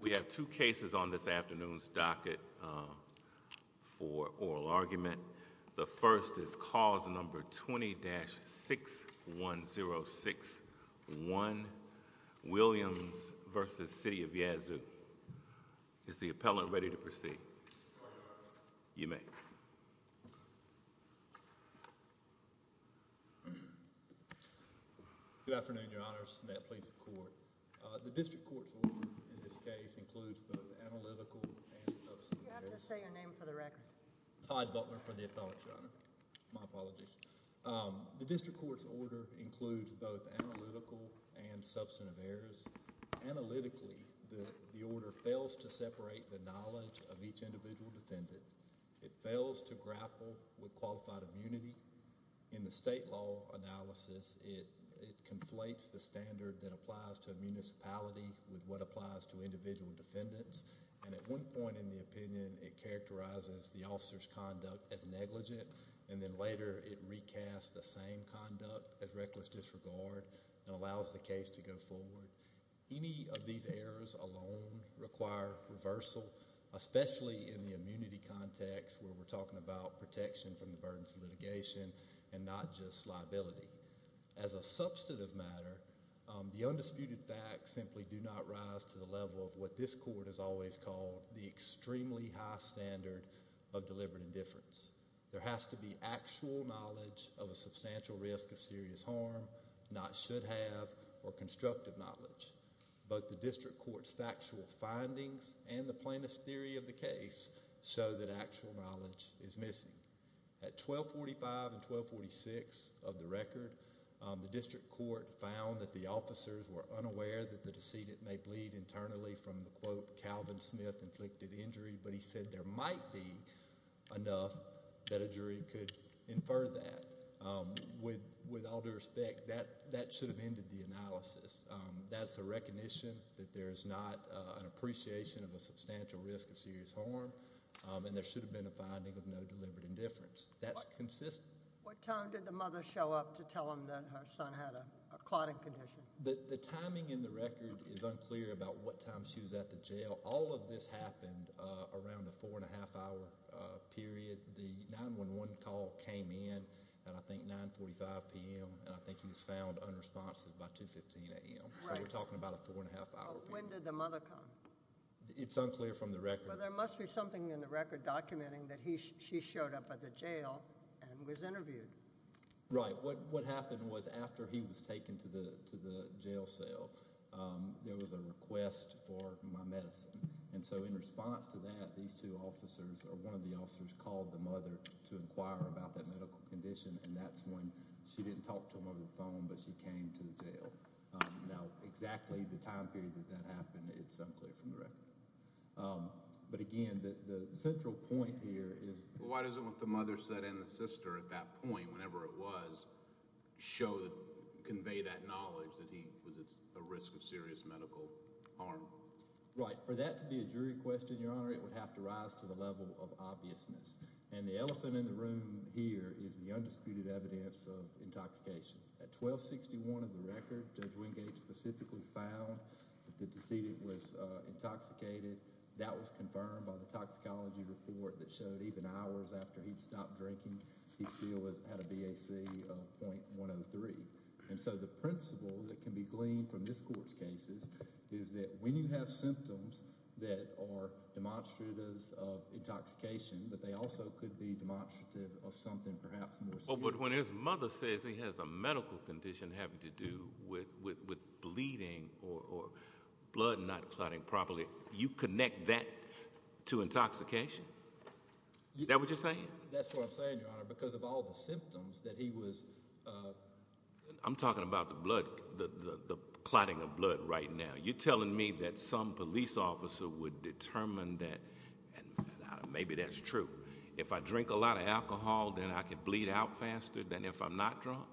We have two cases on this afternoon's docket for oral argument. The first is cause number 20-61061, Williams v. City of Yazoo. Is the appellant ready to proceed? You may. Good afternoon, your honors. May it please the court. The district court's order in this case includes both analytical and substantive errors. You have to say your name for the record. Todd Butler for the appellate, your honor. My apologies. The district court's order includes both analytical and substantive errors. Analytically, the order fails to separate the knowledge of each individual defendant. It fails to grapple with qualified immunity. In the state law analysis, it conflates the standard that applies to a municipality with what applies to individual defendants, and at one point in the opinion, it characterizes the officer's conduct as negligent, and then later it recasts the same conduct as reckless disregard and allows the case to go forward. Any of these errors alone require reversal, especially in the immunity context where we're not just liability. As a substantive matter, the undisputed facts simply do not rise to the level of what this court has always called the extremely high standard of deliberate indifference. There has to be actual knowledge of a substantial risk of serious harm, not should-have or constructive knowledge. Both the district court's factual findings and the plaintiff's theory of the case show that actual knowledge is missing. At 1245 and 1246 of the record, the district court found that the officers were unaware that the decedent may bleed internally from the, quote, Calvin Smith inflicted injury, but he said there might be enough that a jury could infer that. With all due respect, that should have ended the analysis. That's a recognition that there is not an appreciation of a substantial risk of serious harm, and there should have been a finding of no deliberate indifference. That's consistent. What time did the mother show up to tell him that her son had a clotting condition? The timing in the record is unclear about what time she was at the jail. All of this happened around the four-and-a-half-hour period. The 911 call came in at, I think, 945 p.m., and I think he was found unresponsive by 215 a.m. Right. So we're talking about a four-and-a-half-hour period. When did the mother come? It's unclear from the record. Well, there must be something in the record documenting that she showed up at the jail and was interviewed. Right. What happened was after he was taken to the jail cell, there was a request for my medicine. And so in response to that, these two officers, or one of the officers, called the mother to inquire about that medical condition, and that's when she didn't talk to him over the phone, but she came to the jail. Now, exactly the time period that that happened, it's unclear from the record. But again, the central point here is— Why doesn't what the mother said and the sister at that point, whenever it was, convey that knowledge that he was at risk of serious medical harm? Right. For that to be a jury question, Your Honor, it would have to rise to the level of obviousness. And the elephant in the room here is the undisputed evidence of intoxication. At 1261 of the record, Judge Wingate specifically found that the decedent was intoxicated. That was confirmed by the toxicology report that showed even hours after he'd stopped drinking, he still had a BAC of .103. And so the principle that can be gleaned from this Court's cases is that when you have symptoms that are demonstrative of intoxication, that they also could be demonstrative of something perhaps more serious. But when his mother says he has a medical condition having to do with bleeding or blood not clotting properly, you connect that to intoxication? Is that what you're saying? That's what I'm saying, Your Honor, because of all the symptoms that he was— I'm talking about the blood—the clotting of blood right now. You're telling me that some police officer would determine that—and maybe that's true. If I drink a lot of alcohol, then I could bleed out faster than if I'm not drunk?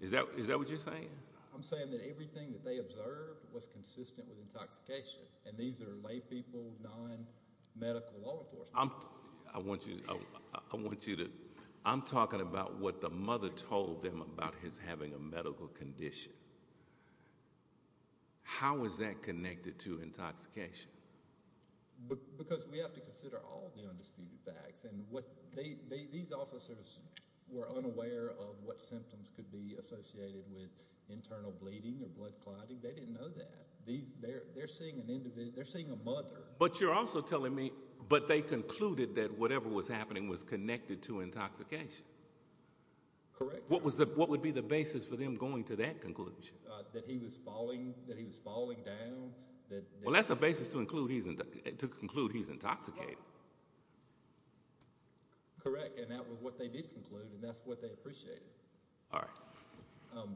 Is that what you're saying? I'm saying that everything that they observed was consistent with intoxication. And these are laypeople, non-medical law enforcement. I want you to—I'm talking about what the mother told them about his having a medical condition. How is that connected to intoxication? Because we have to consider all the undisputed facts. And what—these officers were unaware of what symptoms could be associated with internal bleeding or blood clotting. They didn't know that. They're seeing an individual—they're seeing a mother. But you're also telling me—but they concluded that whatever was happening was connected to intoxication. Correct. What would be the basis for them going to that conclusion? That he was falling—that he was falling down. Well, that's a basis to conclude he's intoxicated. Correct. And that was what they did conclude, and that's what they appreciated. All right.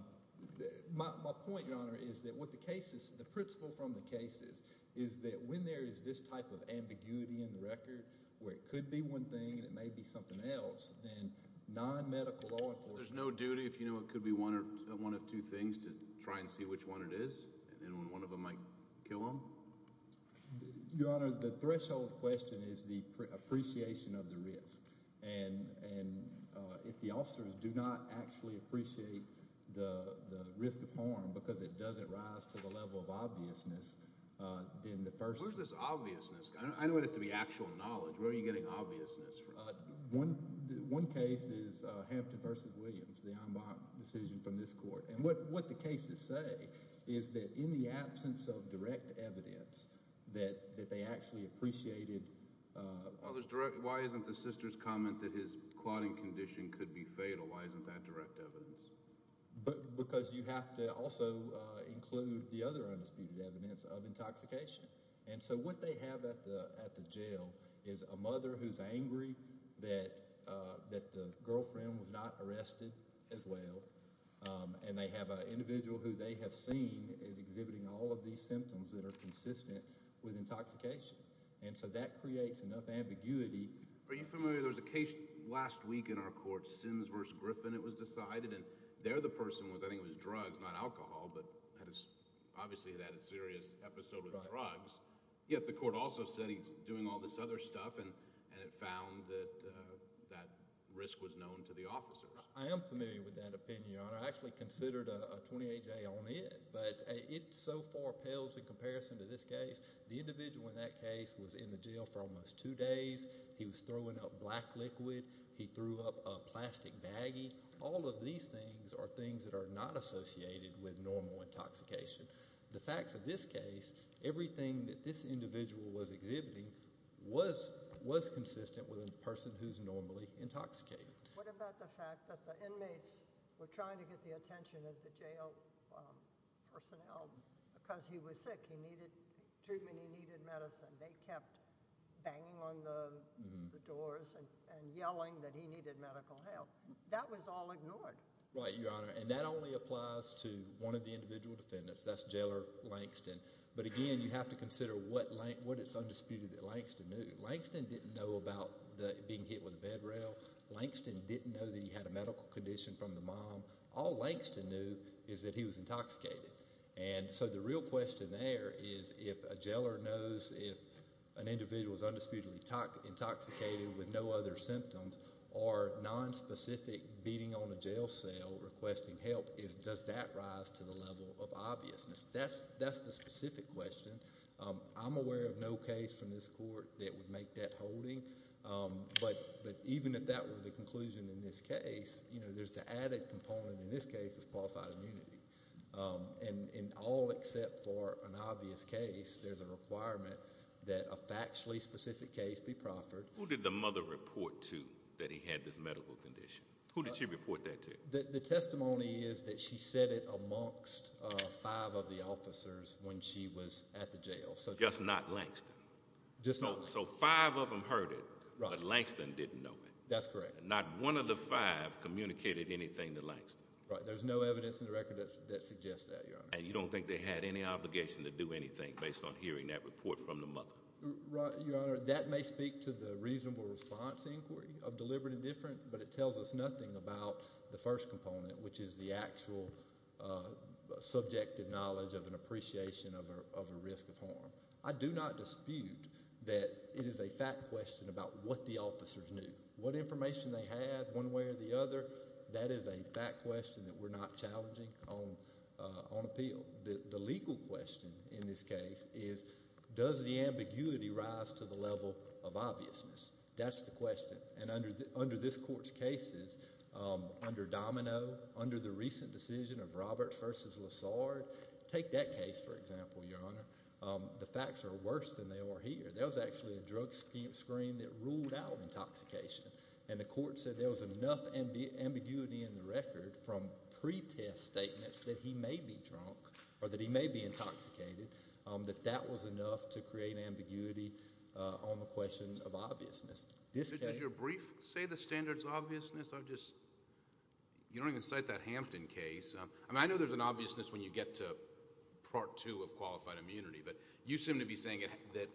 My point, Your Honor, is that what the case is—the principle from the case is is that when there is this type of ambiguity in the record, where it could be one thing and it may be something else, then non-medical law enforcement— There's no duty. If you know it could be one of two things, to try and see which one it is. And then when one of them might kill him? Your Honor, the threshold question is the appreciation of the risk. And if the officers do not actually appreciate the risk of harm because it doesn't rise to the level of obviousness, then the first— Where's this obviousness? I know it has to be actual knowledge. Where are you getting obviousness from? One case is Hampton v. Williams, the en banc decision from this court. And what the cases say is that in the absence of direct evidence that they actually appreciated— Why isn't the sister's comment that his clotting condition could be fatal? Why isn't that direct evidence? Because you have to also include the other undisputed evidence of intoxication. And so what they have at the jail is a mother who's angry that the girlfriend was not arrested as well. And they have an individual who they have seen is exhibiting all of these symptoms that are consistent with intoxication. And so that creates enough ambiguity. Are you familiar, there was a case last week in our court, Sims v. Griffin, it was decided. And there the person was, I think it was drugs, not alcohol, but obviously it had a serious episode with drugs. Yet the court also said he's doing all this other stuff, and it found that that risk was known to the officers. I am familiar with that opinion. I actually considered a 28-J on it. But it so far pales in comparison to this case. The individual in that case was in the jail for almost two days. He was throwing up black liquid. He threw up a plastic baggie. All of these things are things that are not associated with normal intoxication. The fact of this case, everything that this individual was exhibiting was consistent with a person who's normally intoxicated. What about the fact that the inmates were trying to get the attention of the jail personnel because he was sick? He needed treatment. He needed medicine. They kept banging on the doors and yelling that he needed medical help. That was all ignored. Right, Your Honor. And that only applies to one of the individual defendants. That's Jailer Langston. But again, you have to consider what it's undisputed that Langston knew. Langston didn't know about being hit with a bed rail. Langston didn't know that he had a medical condition from the mom. All Langston knew is that he was intoxicated. And so the real question there is if a jailer knows if an individual is undisputedly intoxicated with no other symptoms or nonspecific beating on a jail cell requesting help, does that rise to the level of obviousness? That's the specific question. I'm aware of no case from this court that would make that holding. But even if that were the conclusion in this case, there's the added component in this case of qualified immunity. And all except for an obvious case, there's a requirement that a factually specific case be proffered. Who did the mother report to that he had this medical condition? Who did she report that to? The testimony is that she said it amongst five of the officers when she was at the jail. Just not Langston? So five of them heard it, but Langston didn't know it? That's correct. Not one of the five communicated anything to Langston? Right. There's no evidence in the record that suggests that, Your Honor. And you don't think they had any obligation to do anything based on hearing that report from the mother? Your Honor, that may speak to the reasonable response inquiry of deliberate indifference, but it tells us nothing about the first component, which is the actual subjective knowledge of an appreciation of a risk of harm. I do not dispute that it is a fact question about what the officers knew. What information they had one way or the other, that is a fact question that we're not challenging on appeal. The legal question in this case is does the ambiguity rise to the level of obviousness? That's the question. And under this court's cases, under Domino, under the recent decision of Roberts v. Lessard, take that case, for example, Your Honor. The facts are worse than they are here. There was actually a drug screen that ruled out intoxication. And the court said there was enough ambiguity in the record from pre-test statements that he may be drunk, or that he may be intoxicated, that that was enough to create ambiguity on the question of obviousness. Does your brief say the standards of obviousness? You don't even cite that Hampton case. I know there's an obviousness when you get to Part 2 of qualified immunity, but you seem to be saying that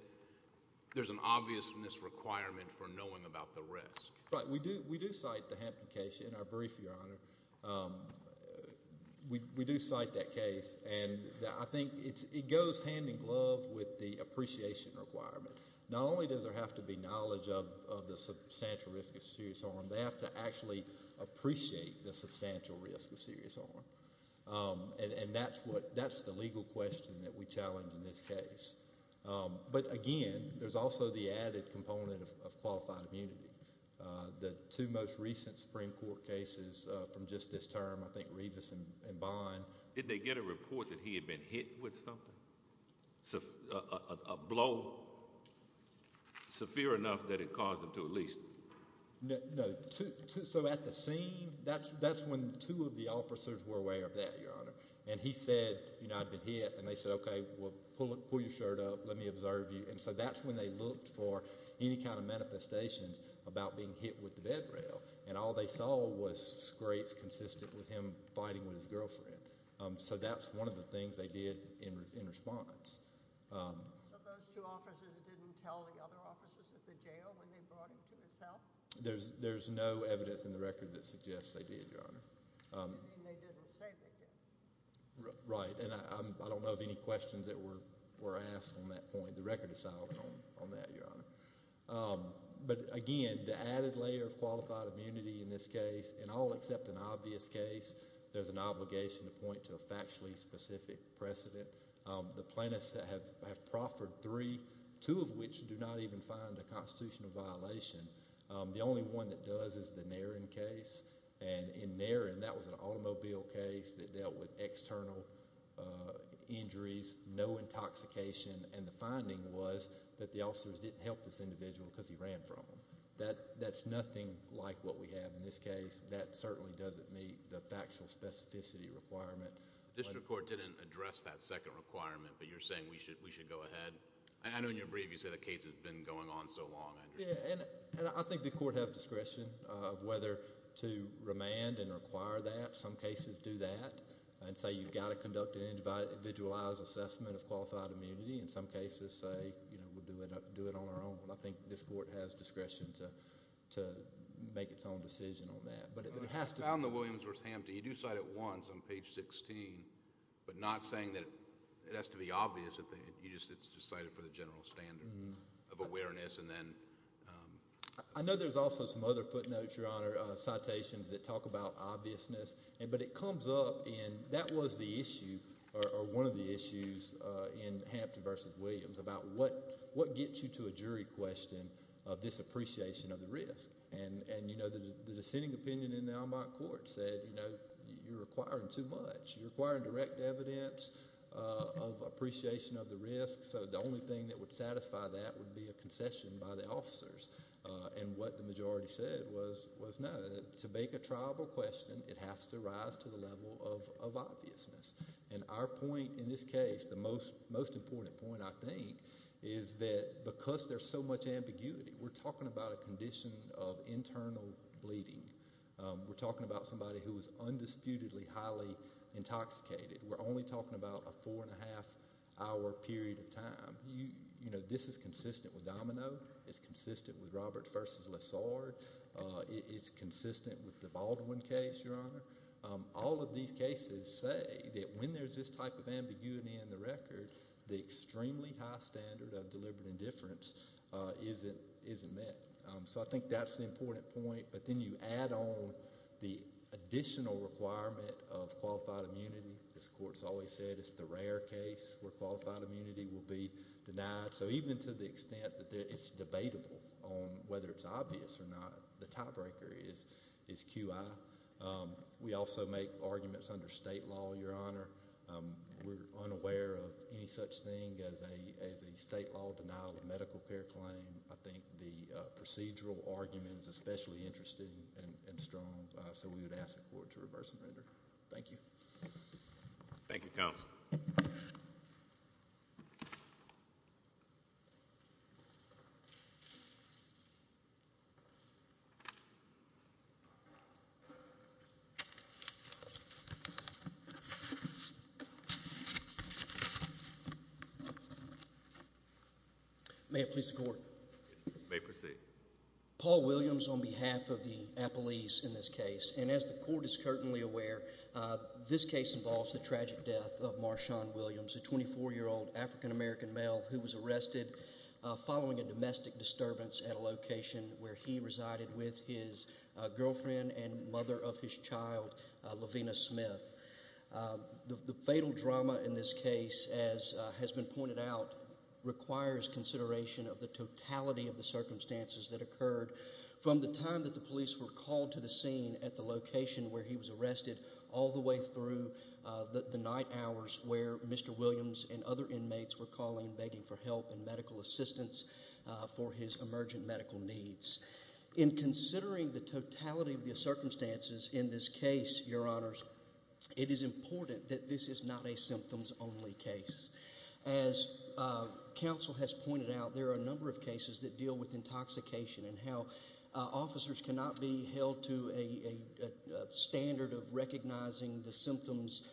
there's an obviousness requirement for knowing about the risk. We do cite the Hampton case in our brief, Your Honor. We do cite that case, and I think it goes hand in glove with the appreciation requirement. Not only does there have to be knowledge of the substantial risk of serious harm, they have to actually appreciate the substantial risk of serious harm. And that's the legal question that we challenge in this case. But again, there's also the added component of qualified immunity. The two most recent Supreme Court cases from just this term, I think Revis and Bond— Did they get a report that he had been hit with something? A blow severe enough that it caused him to, at least— No. So at the scene, that's when two of the officers were aware of that, Your Honor. And he said, you know, I've been hit. And they said, okay, well, pull your shirt up. Let me observe you. And so that's when they looked for any kind of manifestations about being hit with the bed rail. And all they saw was scrapes consistent with him fighting with his girlfriend. So that's one of the things they did in response. So those two officers didn't tell the other officers at the jail when they brought him to his cell? There's no evidence in the record that suggests they did, Your Honor. You mean they didn't say they did? Right. And I don't know of any questions that were asked on that point. The record is solid on that, Your Honor. But again, the added layer of qualified immunity in this case, and all except an obvious case, there's an obligation to point to a factually specific precedent. The plaintiffs have proffered three, two of which do not even find a constitutional violation. The only one that does is the Nairn case. And in Nairn, that was an automobile case that dealt with external injuries, no intoxication. And the finding was that the officers didn't help this individual because he ran from them. That's nothing like what we have in this case. That certainly doesn't meet the factual specificity requirement. The district court didn't address that second requirement, but you're saying we should go ahead. I know in your brief you say the case has been going on so long. I think the court has discretion of whether to remand and require that. Some cases do that and say you've got to conduct an individualized assessment of qualified immunity. In some cases say we'll do it on our own. I think this court has discretion to make its own decision on that. I found the Williams v. Hampton. You do cite it once on page 16, but not saying that it has to be obvious. It's just cited for the general standard of awareness. I know there's also some other footnotes, Your Honor, citations that talk about obviousness, but it comes up and that was the issue or one of the issues in Hampton v. Williams about what gets you to a jury question of this appreciation of the risk. The dissenting opinion in the Almont court said you're requiring too much. You're requiring direct evidence of appreciation of the risk, so the only thing that would satisfy that would be a concession by the officers. What the majority said was no. To make a triable question, it has to rise to the level of obviousness. Our point in this case, the most important point I think, is that because there's so much ambiguity, we're talking about a condition of internal bleeding. We're talking about somebody who was undisputedly highly intoxicated. We're only talking about a four-and-a-half-hour period of time. This is consistent with Domino. It's consistent with Robert v. Lessard. It's consistent with the Baldwin case, Your Honor. All of these cases say that when there's this type of ambiguity in the record, the extremely high standard of deliberate indifference isn't met. So I think that's the important point. But then you add on the additional requirement of qualified immunity. This court's always said it's the rare case where qualified immunity will be denied. So even to the extent that it's debatable on whether it's obvious or not, the tiebreaker is QI. We also make arguments under state law, Your Honor. We're unaware of any such thing as a state law denial of medical care claim. I think the procedural argument is especially interesting and strong. So we would ask the court to reverse and render. Thank you. Thank you, counsel. May it please the court. You may proceed. Paul Williams on behalf of the appellees in this case. And as the court is certainly aware, this case involves the tragic death of Marshawn Williams, a 24-year-old African-American male who was arrested following a domestic disturbance at a location where he resided with his girlfriend and mother of his child, Lavina Smith. The fatal drama in this case, as has been pointed out, requires consideration of the totality of the circumstances that occurred from the time that the police were called to the scene at the location where he was arrested all the way through the night hours where Mr. Williams and other inmates were calling, begging for help and medical assistance for his emergent medical needs. In considering the totality of the circumstances in this case, Your Honors, it is important that this is not a symptoms-only case. As counsel has pointed out, there are a number of cases that deal with intoxication and how officers cannot be held to a standard of recognizing the symptoms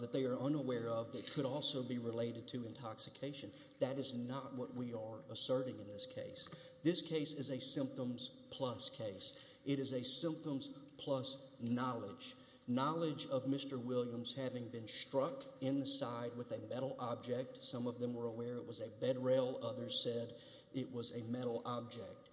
that they are unaware of that could also be related to intoxication. That is not what we are asserting in this case. This case is a symptoms-plus case. It is a symptoms-plus knowledge, knowledge of Mr. Williams having been struck in the side with a metal object. Some of them were aware it was a bed rail. Others said it was a metal object.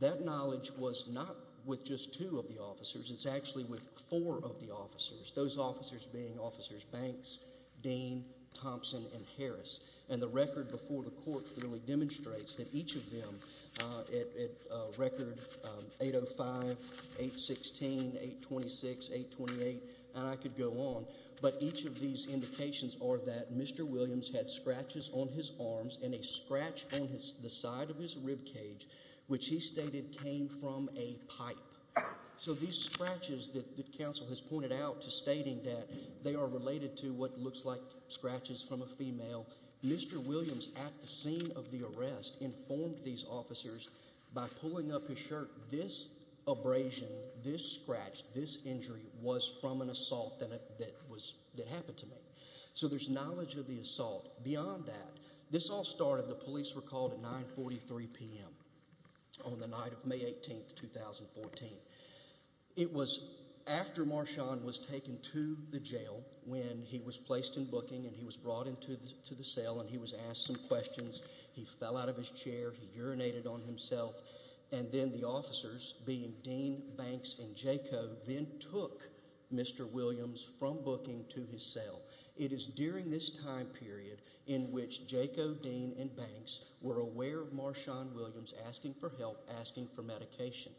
That knowledge was not with just two of the officers. It's actually with four of the officers, those officers being Officers Banks, Dean, Thompson, and Harris. And the record before the court clearly demonstrates that each of them, at record 805, 816, 826, 828, and I could go on, but each of these indications are that Mr. Williams had scratches on his arms and a scratch on the side of his ribcage, which he stated came from a pipe. So these scratches that counsel has pointed out to stating that they are related to what looks like scratches from a female, Mr. Williams, at the scene of the arrest, informed these officers by pulling up his shirt, this abrasion, this scratch, this injury was from an assault that happened to me. So there's knowledge of the assault. Beyond that, this all started, the police were called at 943 p.m. on the night of May 18, 2014. It was after Marshawn was taken to the jail when he was placed in booking and he was brought into the cell and he was asked some questions, he fell out of his chair, he urinated on himself, and then the officers, being Dean, Banks, and Jaco, then took Mr. Williams from booking to his cell. It is during this time period in which Jaco, Dean, and Banks were aware of Marshawn Williams asking for help, asking for medication.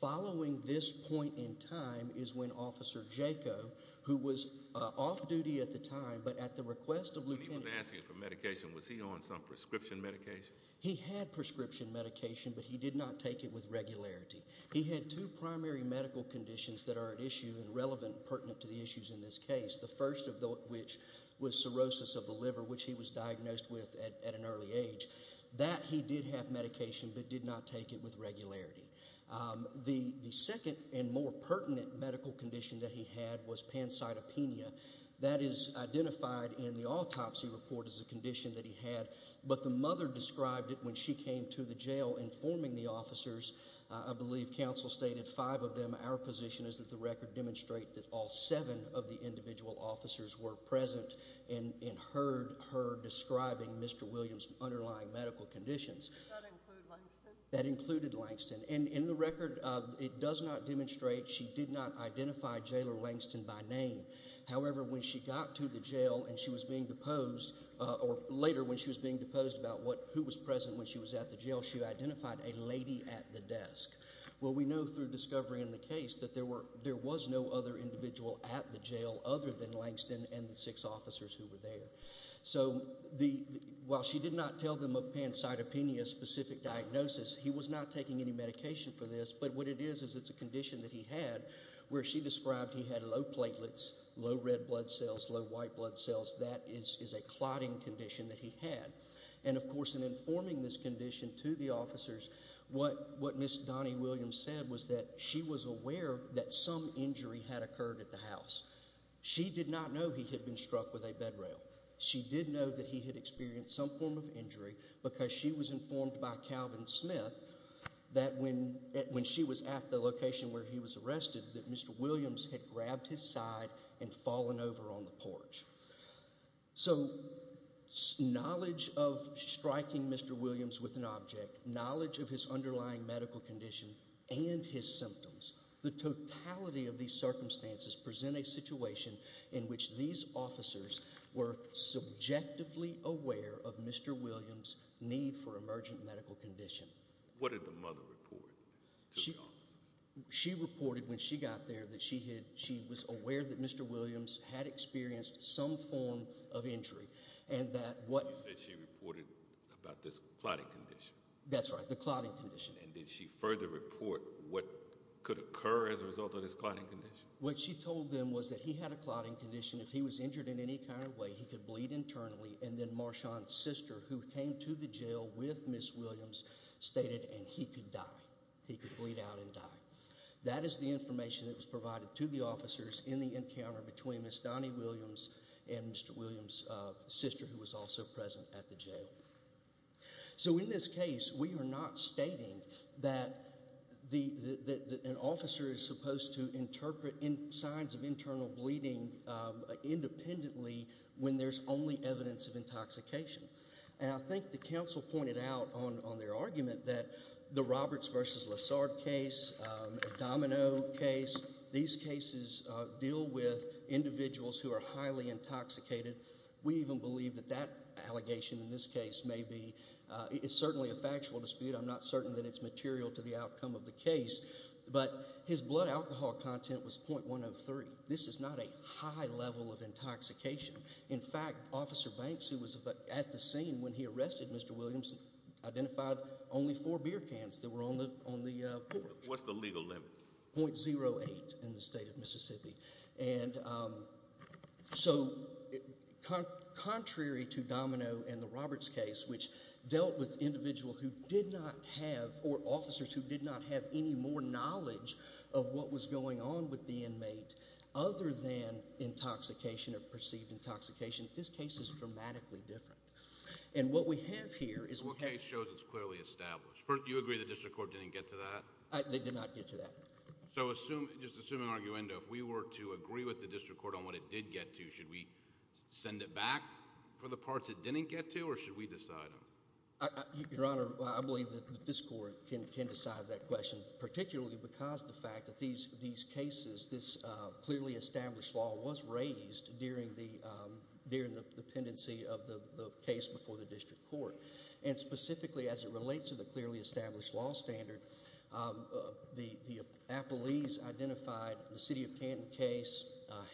Following this point in time is when Officer Jaco, who was off duty at the time, but at the request of Lieutenant— When he was asking for medication, was he on some prescription medication? He had prescription medication, but he did not take it with regularity. He had two primary medical conditions that are at issue and relevant and pertinent to the issues in this case, the first of which was cirrhosis of the liver, which he was diagnosed with at an early age. That he did have medication, but did not take it with regularity. The second and more pertinent medical condition that he had was pancytopenia. That is identified in the autopsy report as a condition that he had, but the mother described it when she came to the jail informing the officers. I believe counsel stated five of them. Our position is that the record demonstrate that all seven of the individual officers were present and heard her describing Mr. Williams' underlying medical conditions. Does that include Langston? That included Langston. In the record, it does not demonstrate she did not identify Jailer Langston by name. However, when she got to the jail and she was being deposed, or later when she was being deposed about who was present when she was at the jail, she identified a lady at the desk. We know through discovery in the case that there was no other individual at the jail other than Langston and the six officers who were there. While she did not tell them of pancytopenia's specific diagnosis, he was not taking any medication for this, but what it is is it's a condition that he had where she described he had low platelets, low red blood cells, low white blood cells. That is a clotting condition that he had. And, of course, in informing this condition to the officers, what Ms. Donnie Williams said was that she was aware that some injury had occurred at the house. She did not know he had been struck with a bed rail. She did know that he had experienced some form of injury because she was informed by Calvin Smith that when she was at the location where he was arrested that Mr. Williams had grabbed his side and fallen over on the porch. So knowledge of striking Mr. Williams with an object, knowledge of his underlying medical condition, and his symptoms, the totality of these circumstances present a situation in which these officers were subjectively aware of Mr. Williams' need for emergent medical condition. What did the mother report to the officers? She reported when she got there that she was aware that Mr. Williams had experienced some form of injury. You said she reported about this clotting condition. That's right, the clotting condition. And did she further report what could occur as a result of this clotting condition? What she told them was that he had a clotting condition. If he was injured in any kind of way, he could bleed internally. And then Marshawn's sister, who came to the jail with Ms. Williams, stated, and he could die. He could bleed out and die. That is the information that was provided to the officers in the encounter between Ms. Donnie Williams and Mr. Williams' sister, who was also present at the jail. So in this case, we are not stating that an officer is supposed to interpret signs of internal bleeding independently when there's only evidence of intoxication. And I think the counsel pointed out on their argument that the Roberts v. Lessard case, Domino case, these cases deal with individuals who are highly intoxicated. We even believe that that allegation in this case may be, it's certainly a factual dispute. I'm not certain that it's material to the outcome of the case. But his blood alcohol content was .103. This is not a high level of intoxication. In fact, Officer Banks, who was at the scene when he arrested Mr. Williams, identified only four beer cans that were on the porch. .08 in the state of Mississippi. And so, contrary to Domino and the Roberts case, which dealt with individuals who did not have, or officers who did not have any more knowledge of what was going on with the inmate, other than intoxication or perceived intoxication, this case is dramatically different. And what we have here is... What case shows it's clearly established? Do you agree the district court didn't get to that? They did not get to that. So just assume an arguendo. If we were to agree with the district court on what it did get to, should we send it back for the parts it didn't get to, or should we decide on it? Your Honor, I believe that this court can decide that question, particularly because of the fact that these cases, this clearly established law, was raised during the pendency of the case before the district court. And specifically, as it relates to the clearly established law standard, the appellees identified the City of Canton case,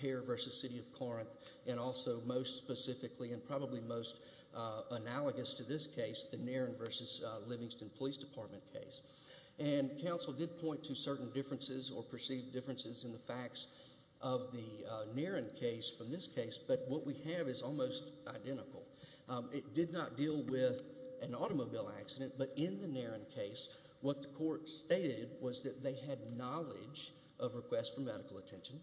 Hare v. City of Corinth, and also most specifically, and probably most analogous to this case, the Nairn v. Livingston Police Department case. And counsel did point to certain differences or perceived differences in the facts of the Nairn case from this case, but what we have is almost identical. It did not deal with an automobile accident, but in the Nairn case, what the court stated was that they had knowledge of requests for medical attention.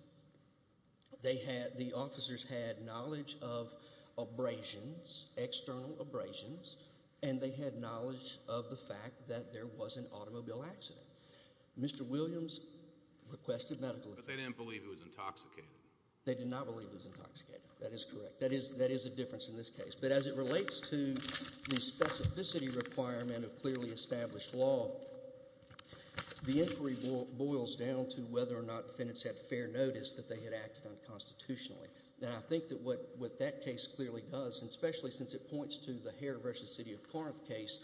The officers had knowledge of abrasions, external abrasions, and they had knowledge of the fact that there was an automobile accident. Mr. Williams requested medical attention. But they didn't believe it was intoxicated. They did not believe it was intoxicated. That is correct. That is a difference in this case. But as it relates to the specificity requirement of clearly established law, the inquiry boils down to whether or not defendants had fair notice that they had acted unconstitutionally. And I think that what that case clearly does, and especially since it points to the Hare v. City of Corinth case,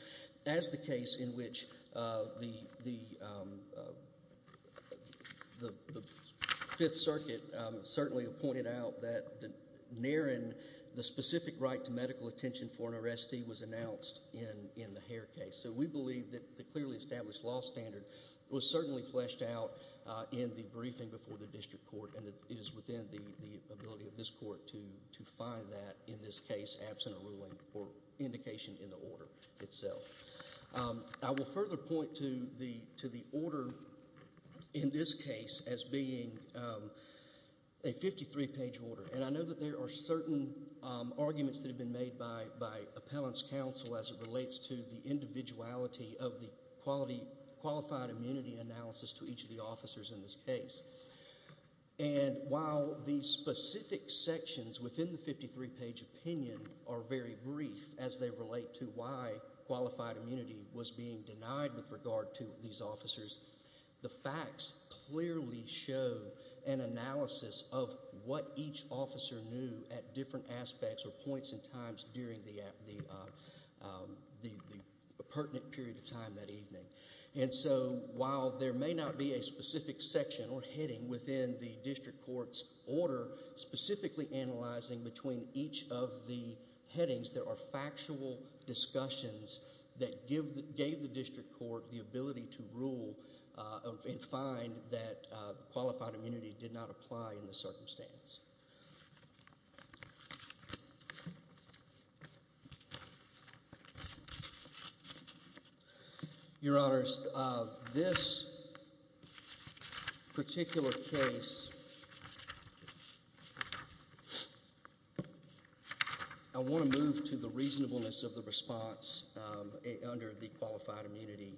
as the case in which the Fifth Circuit certainly pointed out that Nairn, the specific right to medical attention for an arrestee was announced in the Hare case. So we believe that the clearly established law standard was certainly fleshed out in the briefing before the district court, and it is within the ability of this court to find that in this case, absent a ruling or indication in the order itself. I will further point to the order in this case as being a 53-page order. And I know that there are certain arguments that have been made by appellants' counsel as it relates to the individuality of the qualified immunity analysis to each of the officers in this case. And while the specific sections within the 53-page opinion are very brief as they relate to why qualified immunity was being denied with regard to these officers, the facts clearly show an analysis of what each officer knew at different aspects or points and times during the pertinent period of time that evening. And so while there may not be a specific section or heading within the district court's order specifically analyzing between each of the headings, there are factual discussions that gave the district court the ability to rule and find that qualified immunity did not apply in the circumstance. Your Honors, this particular case, I want to move to the reasonableness of the response under the qualified immunity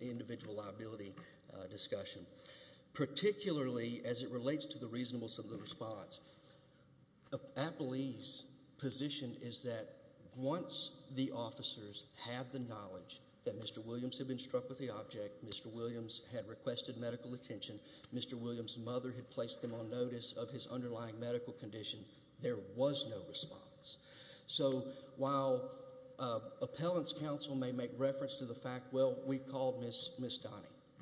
individual liability discussion. Particularly as it relates to the reasonableness of the response, I believe the position is that once the officers had the knowledge that Mr. Williams had been struck with the object, Mr. Williams had requested medical attention, Mr. Williams' mother had placed them on notice of his underlying medical condition, there was no response. So while appellants' counsel may make reference to the fact, well, we called Miss Donnie,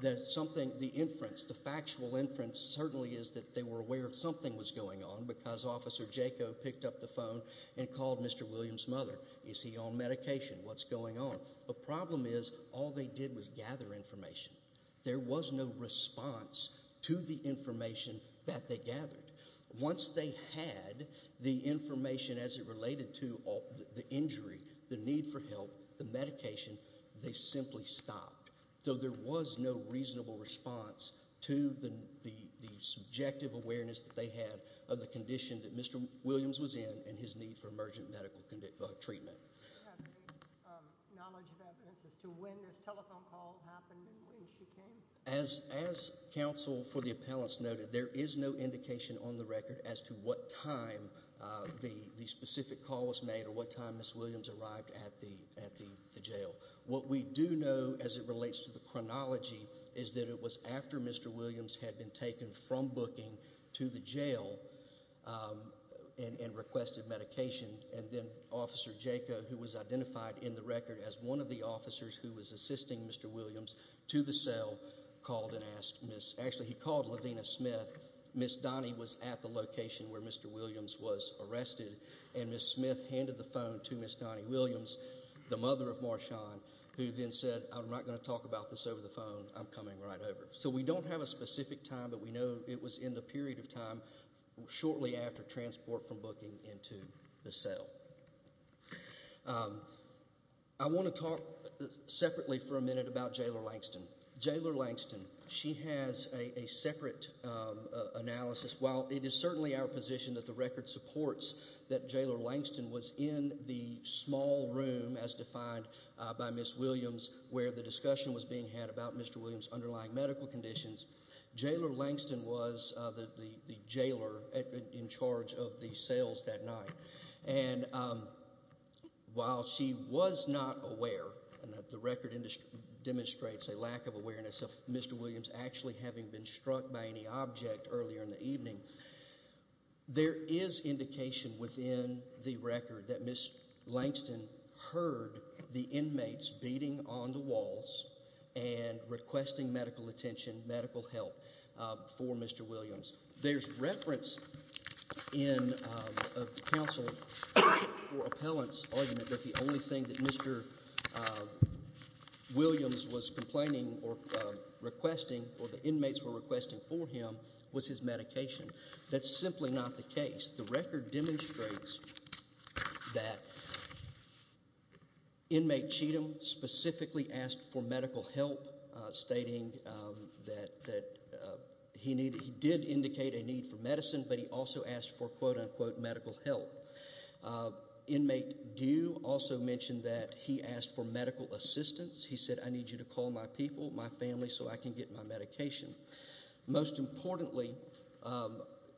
the factual inference certainly is that they were aware something was going on because Officer Jaco picked up the phone and called Mr. Williams' mother. Is he on medication? What's going on? The problem is all they did was gather information. There was no response to the information that they gathered. Once they had the information as it related to the injury, the need for help, the medication, they simply stopped. So there was no reasonable response to the subjective awareness that they had of the condition that Mr. Williams was in and his need for emergent medical treatment. Do you have any knowledge of evidence as to when this telephone call happened and when she came? As counsel for the appellants noted, there is no indication on the record as to what time the specific call was made or what time Miss Williams arrived at the jail. What we do know as it relates to the chronology is that it was after Mr. Williams had been taken from booking to the jail and requested medication, and then Officer Jaco, who was identified in the record as one of the officers who was assisting Mr. Williams to the cell, called and asked Miss—actually, he called Levina Smith. Miss Donnie was at the location where Mr. Williams was arrested, and Miss Smith handed the phone to Miss Donnie Williams, the mother of Marshawn, who then said, I'm not going to talk about this over the phone. I'm coming right over. So we don't have a specific time, but we know it was in the period of time shortly after transport from booking into the cell. I want to talk separately for a minute about Jailor Langston. Jailor Langston, she has a separate analysis. While it is certainly our position that the record supports that Jailor Langston was in the small room, as defined by Miss Williams, where the discussion was being had about Mr. Williams' underlying medical conditions, Jailor Langston was the jailer in charge of the cells that night. And while she was not aware, and the record demonstrates a lack of awareness of Mr. Williams actually having been struck by any object earlier in the evening, there is indication within the record that Miss Langston heard the inmates beating on the walls and requesting medical attention, medical help for Mr. Williams. There's reference in the counsel for appellant's argument that the only thing that Mr. Williams was complaining or requesting or the inmates were requesting for him was his medication. That's simply not the case. The record demonstrates that inmate Cheatham specifically asked for medical help, stating that he did indicate a need for medicine, but he also asked for, quote-unquote, medical help. Inmate Dew also mentioned that he asked for medical assistance. He said, I need you to call my people, my family, so I can get my medication. Most importantly,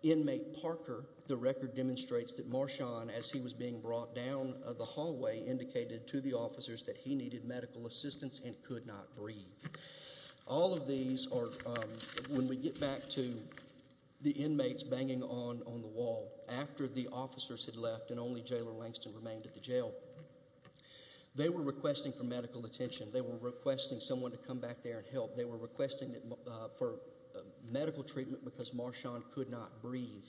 inmate Parker, the record demonstrates that Marshawn, as he was being brought down the hallway, indicated to the officers that he needed medical assistance and could not breathe. All of these are, when we get back to the inmates banging on the wall, after the officers had left and only Jailor Langston remained at the jail, they were requesting for medical attention. They were requesting someone to come back there and help. They were requesting for medical treatment because Marshawn could not breathe.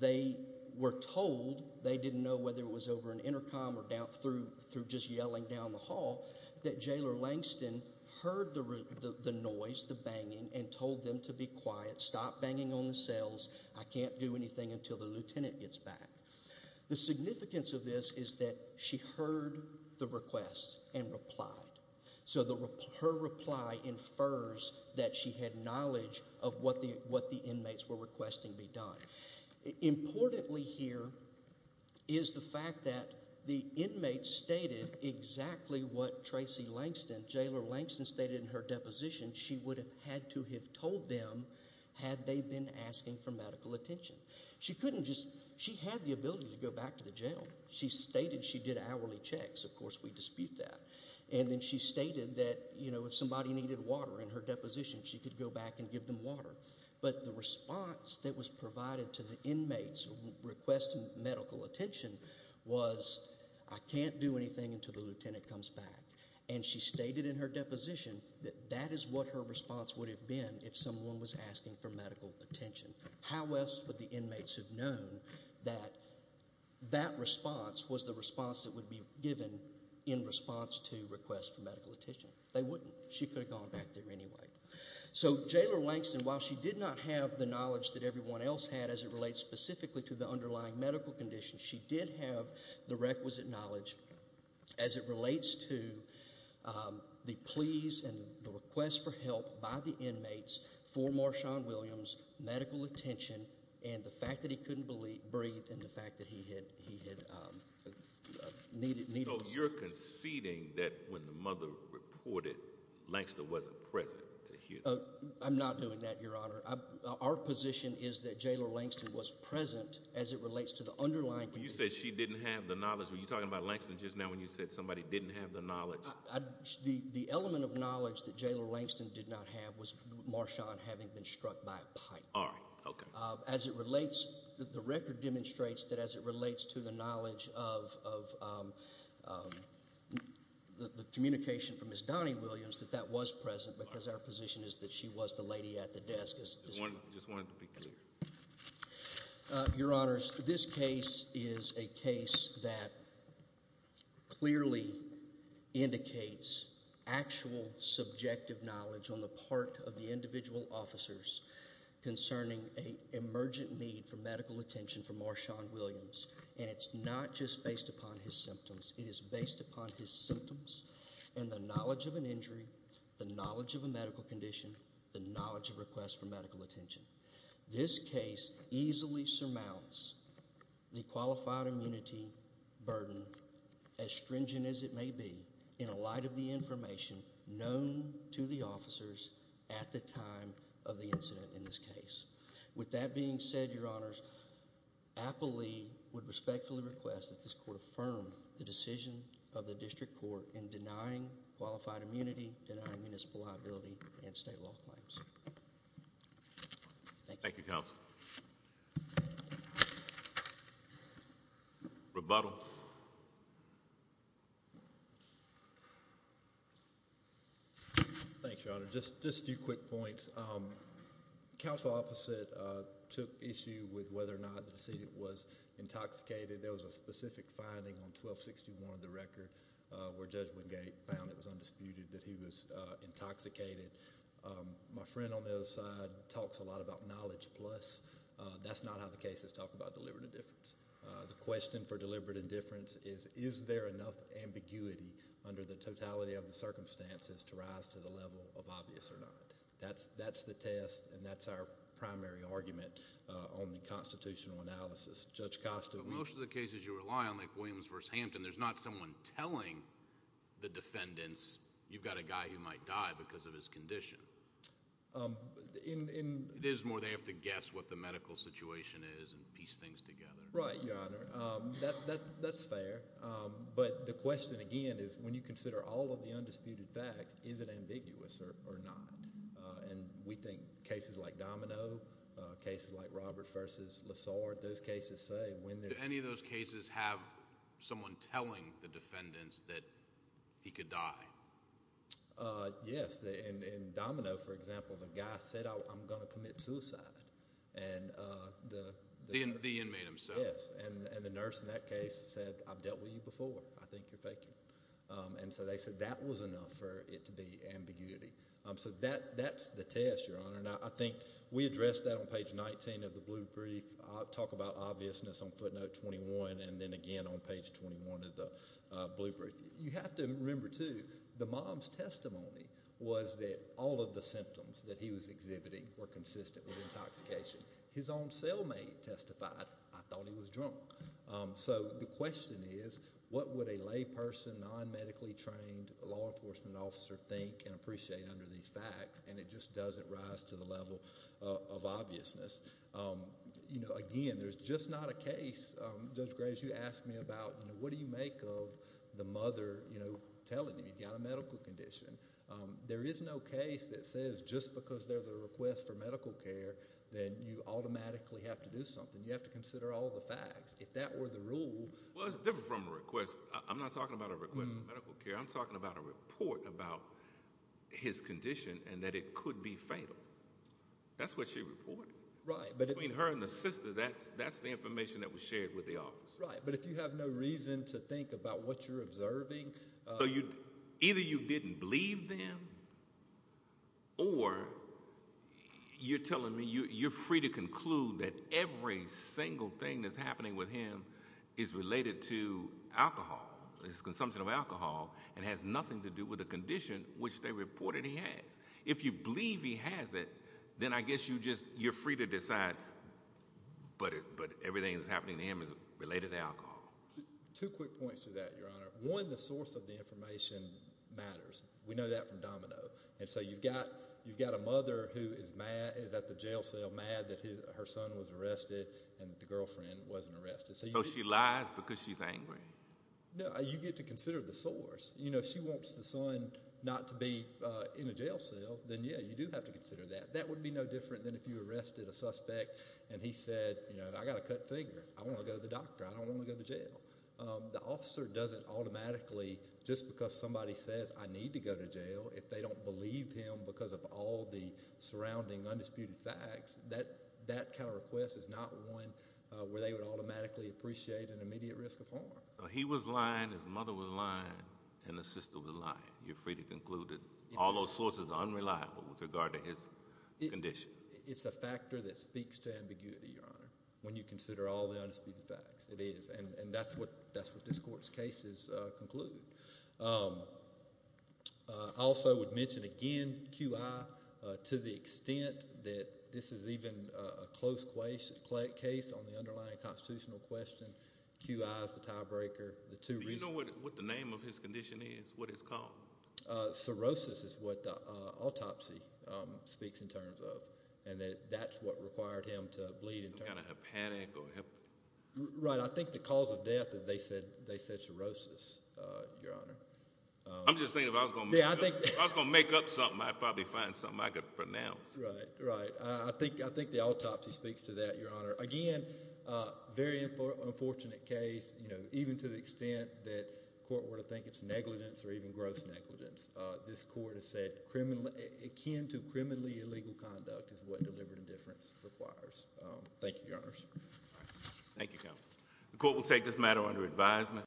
They were told, they didn't know whether it was over an intercom or through just yelling down the hall, that Jailor Langston heard the noise, the banging, and told them to be quiet, stop banging on the cells. I can't do anything until the lieutenant gets back. The significance of this is that she heard the request and replied. So her reply infers that she had knowledge of what the inmates were requesting be done. Importantly here is the fact that the inmates stated exactly what Jailor Langston stated in her deposition. She would have had to have told them had they been asking for medical attention. She had the ability to go back to the jail. She stated she did hourly checks. Of course, we dispute that. And then she stated that if somebody needed water in her deposition, she could go back and give them water. But the response that was provided to the inmates requesting medical attention was, I can't do anything until the lieutenant comes back. And she stated in her deposition that that is what her response would have been if someone was asking for medical attention. How else would the inmates have known that that response was the response that would be given in response to requests for medical attention? They wouldn't. She could have gone back there anyway. So Jailor Langston, while she did not have the knowledge that everyone else had as it relates specifically to the underlying medical conditions, she did have the requisite knowledge as it relates to the pleas and the requests for help by the inmates for Marshawn Williams, medical attention, and the fact that he couldn't breathe and the fact that he had needles. So you're conceding that when the mother reported, Langston wasn't present to hear that? I'm not doing that, Your Honor. Our position is that Jailor Langston was present as it relates to the underlying conditions. You said she didn't have the knowledge. Were you talking about Langston just now when you said somebody didn't have the knowledge? The element of knowledge that Jailor Langston did not have was Marshawn having been struck by a pipe. All right. Okay. As it relates, the record demonstrates that as it relates to the knowledge of the communication from Ms. Donnie Williams that that was present because our position is that she was the lady at the desk. I just wanted to be clear. Your Honors, this case is a case that clearly indicates actual subjective knowledge on the part of the individual officers concerning an emergent need for medical attention for Marshawn Williams, and it's not just based upon his symptoms. It is based upon his symptoms and the knowledge of an injury, the knowledge of a medical condition, the knowledge of requests for medical attention. This case easily surmounts the qualified immunity burden, as stringent as it may be, in light of the information known to the officers at the time of the incident in this case. With that being said, Your Honors, I believe I would respectfully request that this Court affirm the decision of the District Court in denying qualified immunity, denying municipal liability, and state law claims. Thank you, Counsel. Rebuttal. Thanks, Your Honor. Just a few quick points. The counsel opposite took issue with whether or not the decedent was intoxicated. There was a specific finding on 1261 of the record where Judge Wingate found it was undisputed that he was intoxicated. My friend on the other side talks a lot about knowledge plus. That's not how the cases talk about deliberate indifference. The question for deliberate indifference is, is there enough ambiguity under the totality of the circumstances to rise to the level of obvious or not? That's the test, and that's our primary argument on the constitutional analysis. Judge Costa. There's not someone telling the defendants you've got a guy who might die because of his condition. It is more they have to guess what the medical situation is and piece things together. Right, Your Honor. That's fair. But the question, again, is when you consider all of the undisputed facts, is it ambiguous or not? We think cases like Domino, cases like Robert v. Lessard, those cases say when there's— Did any of those cases have someone telling the defendants that he could die? Yes. In Domino, for example, the guy said, I'm going to commit suicide. The inmate himself. Yes. And the nurse in that case said, I've dealt with you before. I think you're faking. And so they said that was enough for it to be ambiguity. So that's the test, Your Honor. And I think we addressed that on page 19 of the blue brief. I'll talk about obviousness on footnote 21 and then again on page 21 of the blue brief. You have to remember, too, the mom's testimony was that all of the symptoms that he was exhibiting were consistent with intoxication. His own cellmate testified, I thought he was drunk. So the question is, what would a layperson, non-medically trained law enforcement officer think and appreciate under these facts? And it just doesn't rise to the level of obviousness. Again, there's just not a case. Judge Graves, you asked me about what do you make of the mother telling him he's got a medical condition. There is no case that says just because there's a request for medical care, then you automatically have to do something. You have to consider all the facts. If that were the rule— Well, it's different from a request. I'm not talking about a request for medical care. I'm talking about a report about his condition and that it could be fatal. That's what she reported. Between her and the sister, that's the information that was shared with the officer. Right, but if you have no reason to think about what you're observing— Either you didn't believe them or you're telling me you're free to conclude that every single thing that's happening with him is related to alcohol, his consumption of alcohol, and has nothing to do with the condition, which they reported he has. If you believe he has it, then I guess you're free to decide, but everything that's happening to him is related to alcohol. One, the source of the information matters. We know that from Domino. And so you've got a mother who is mad, is at the jail cell mad that her son was arrested and the girlfriend wasn't arrested. So she lies because she's angry. No, you get to consider the source. If she wants the son not to be in a jail cell, then, yeah, you do have to consider that. That would be no different than if you arrested a suspect and he said, you know, I've got a cut finger. I want to go to the doctor. I don't want to go to jail. The officer doesn't automatically, just because somebody says I need to go to jail, if they don't believe him because of all the surrounding undisputed facts, that kind of request is not one where they would automatically appreciate an immediate risk of harm. So he was lying, his mother was lying, and his sister was lying. You're free to conclude that all those sources are unreliable with regard to his condition. It's a factor that speaks to ambiguity, Your Honor, when you consider all the undisputed facts. It is, and that's what this court's cases conclude. I also would mention again QI to the extent that this is even a close case on the underlying constitutional question. QI is the tiebreaker. Do you know what the name of his condition is, what it's called? Cirrhosis is what the autopsy speaks in terms of, and that's what required him to bleed. Some kind of hepatic or hep? Right. I think the cause of death, they said cirrhosis, Your Honor. I'm just thinking if I was going to make up something, I'd probably find something I could pronounce. Right, right. I think the autopsy speaks to that, Your Honor. Again, very unfortunate case, even to the extent that the court were to think it's negligence or even gross negligence. This court has said akin to criminally illegal conduct is what deliberate indifference requires. Thank you, Your Honors. Thank you, Counsel. The court will take this matter under advisement.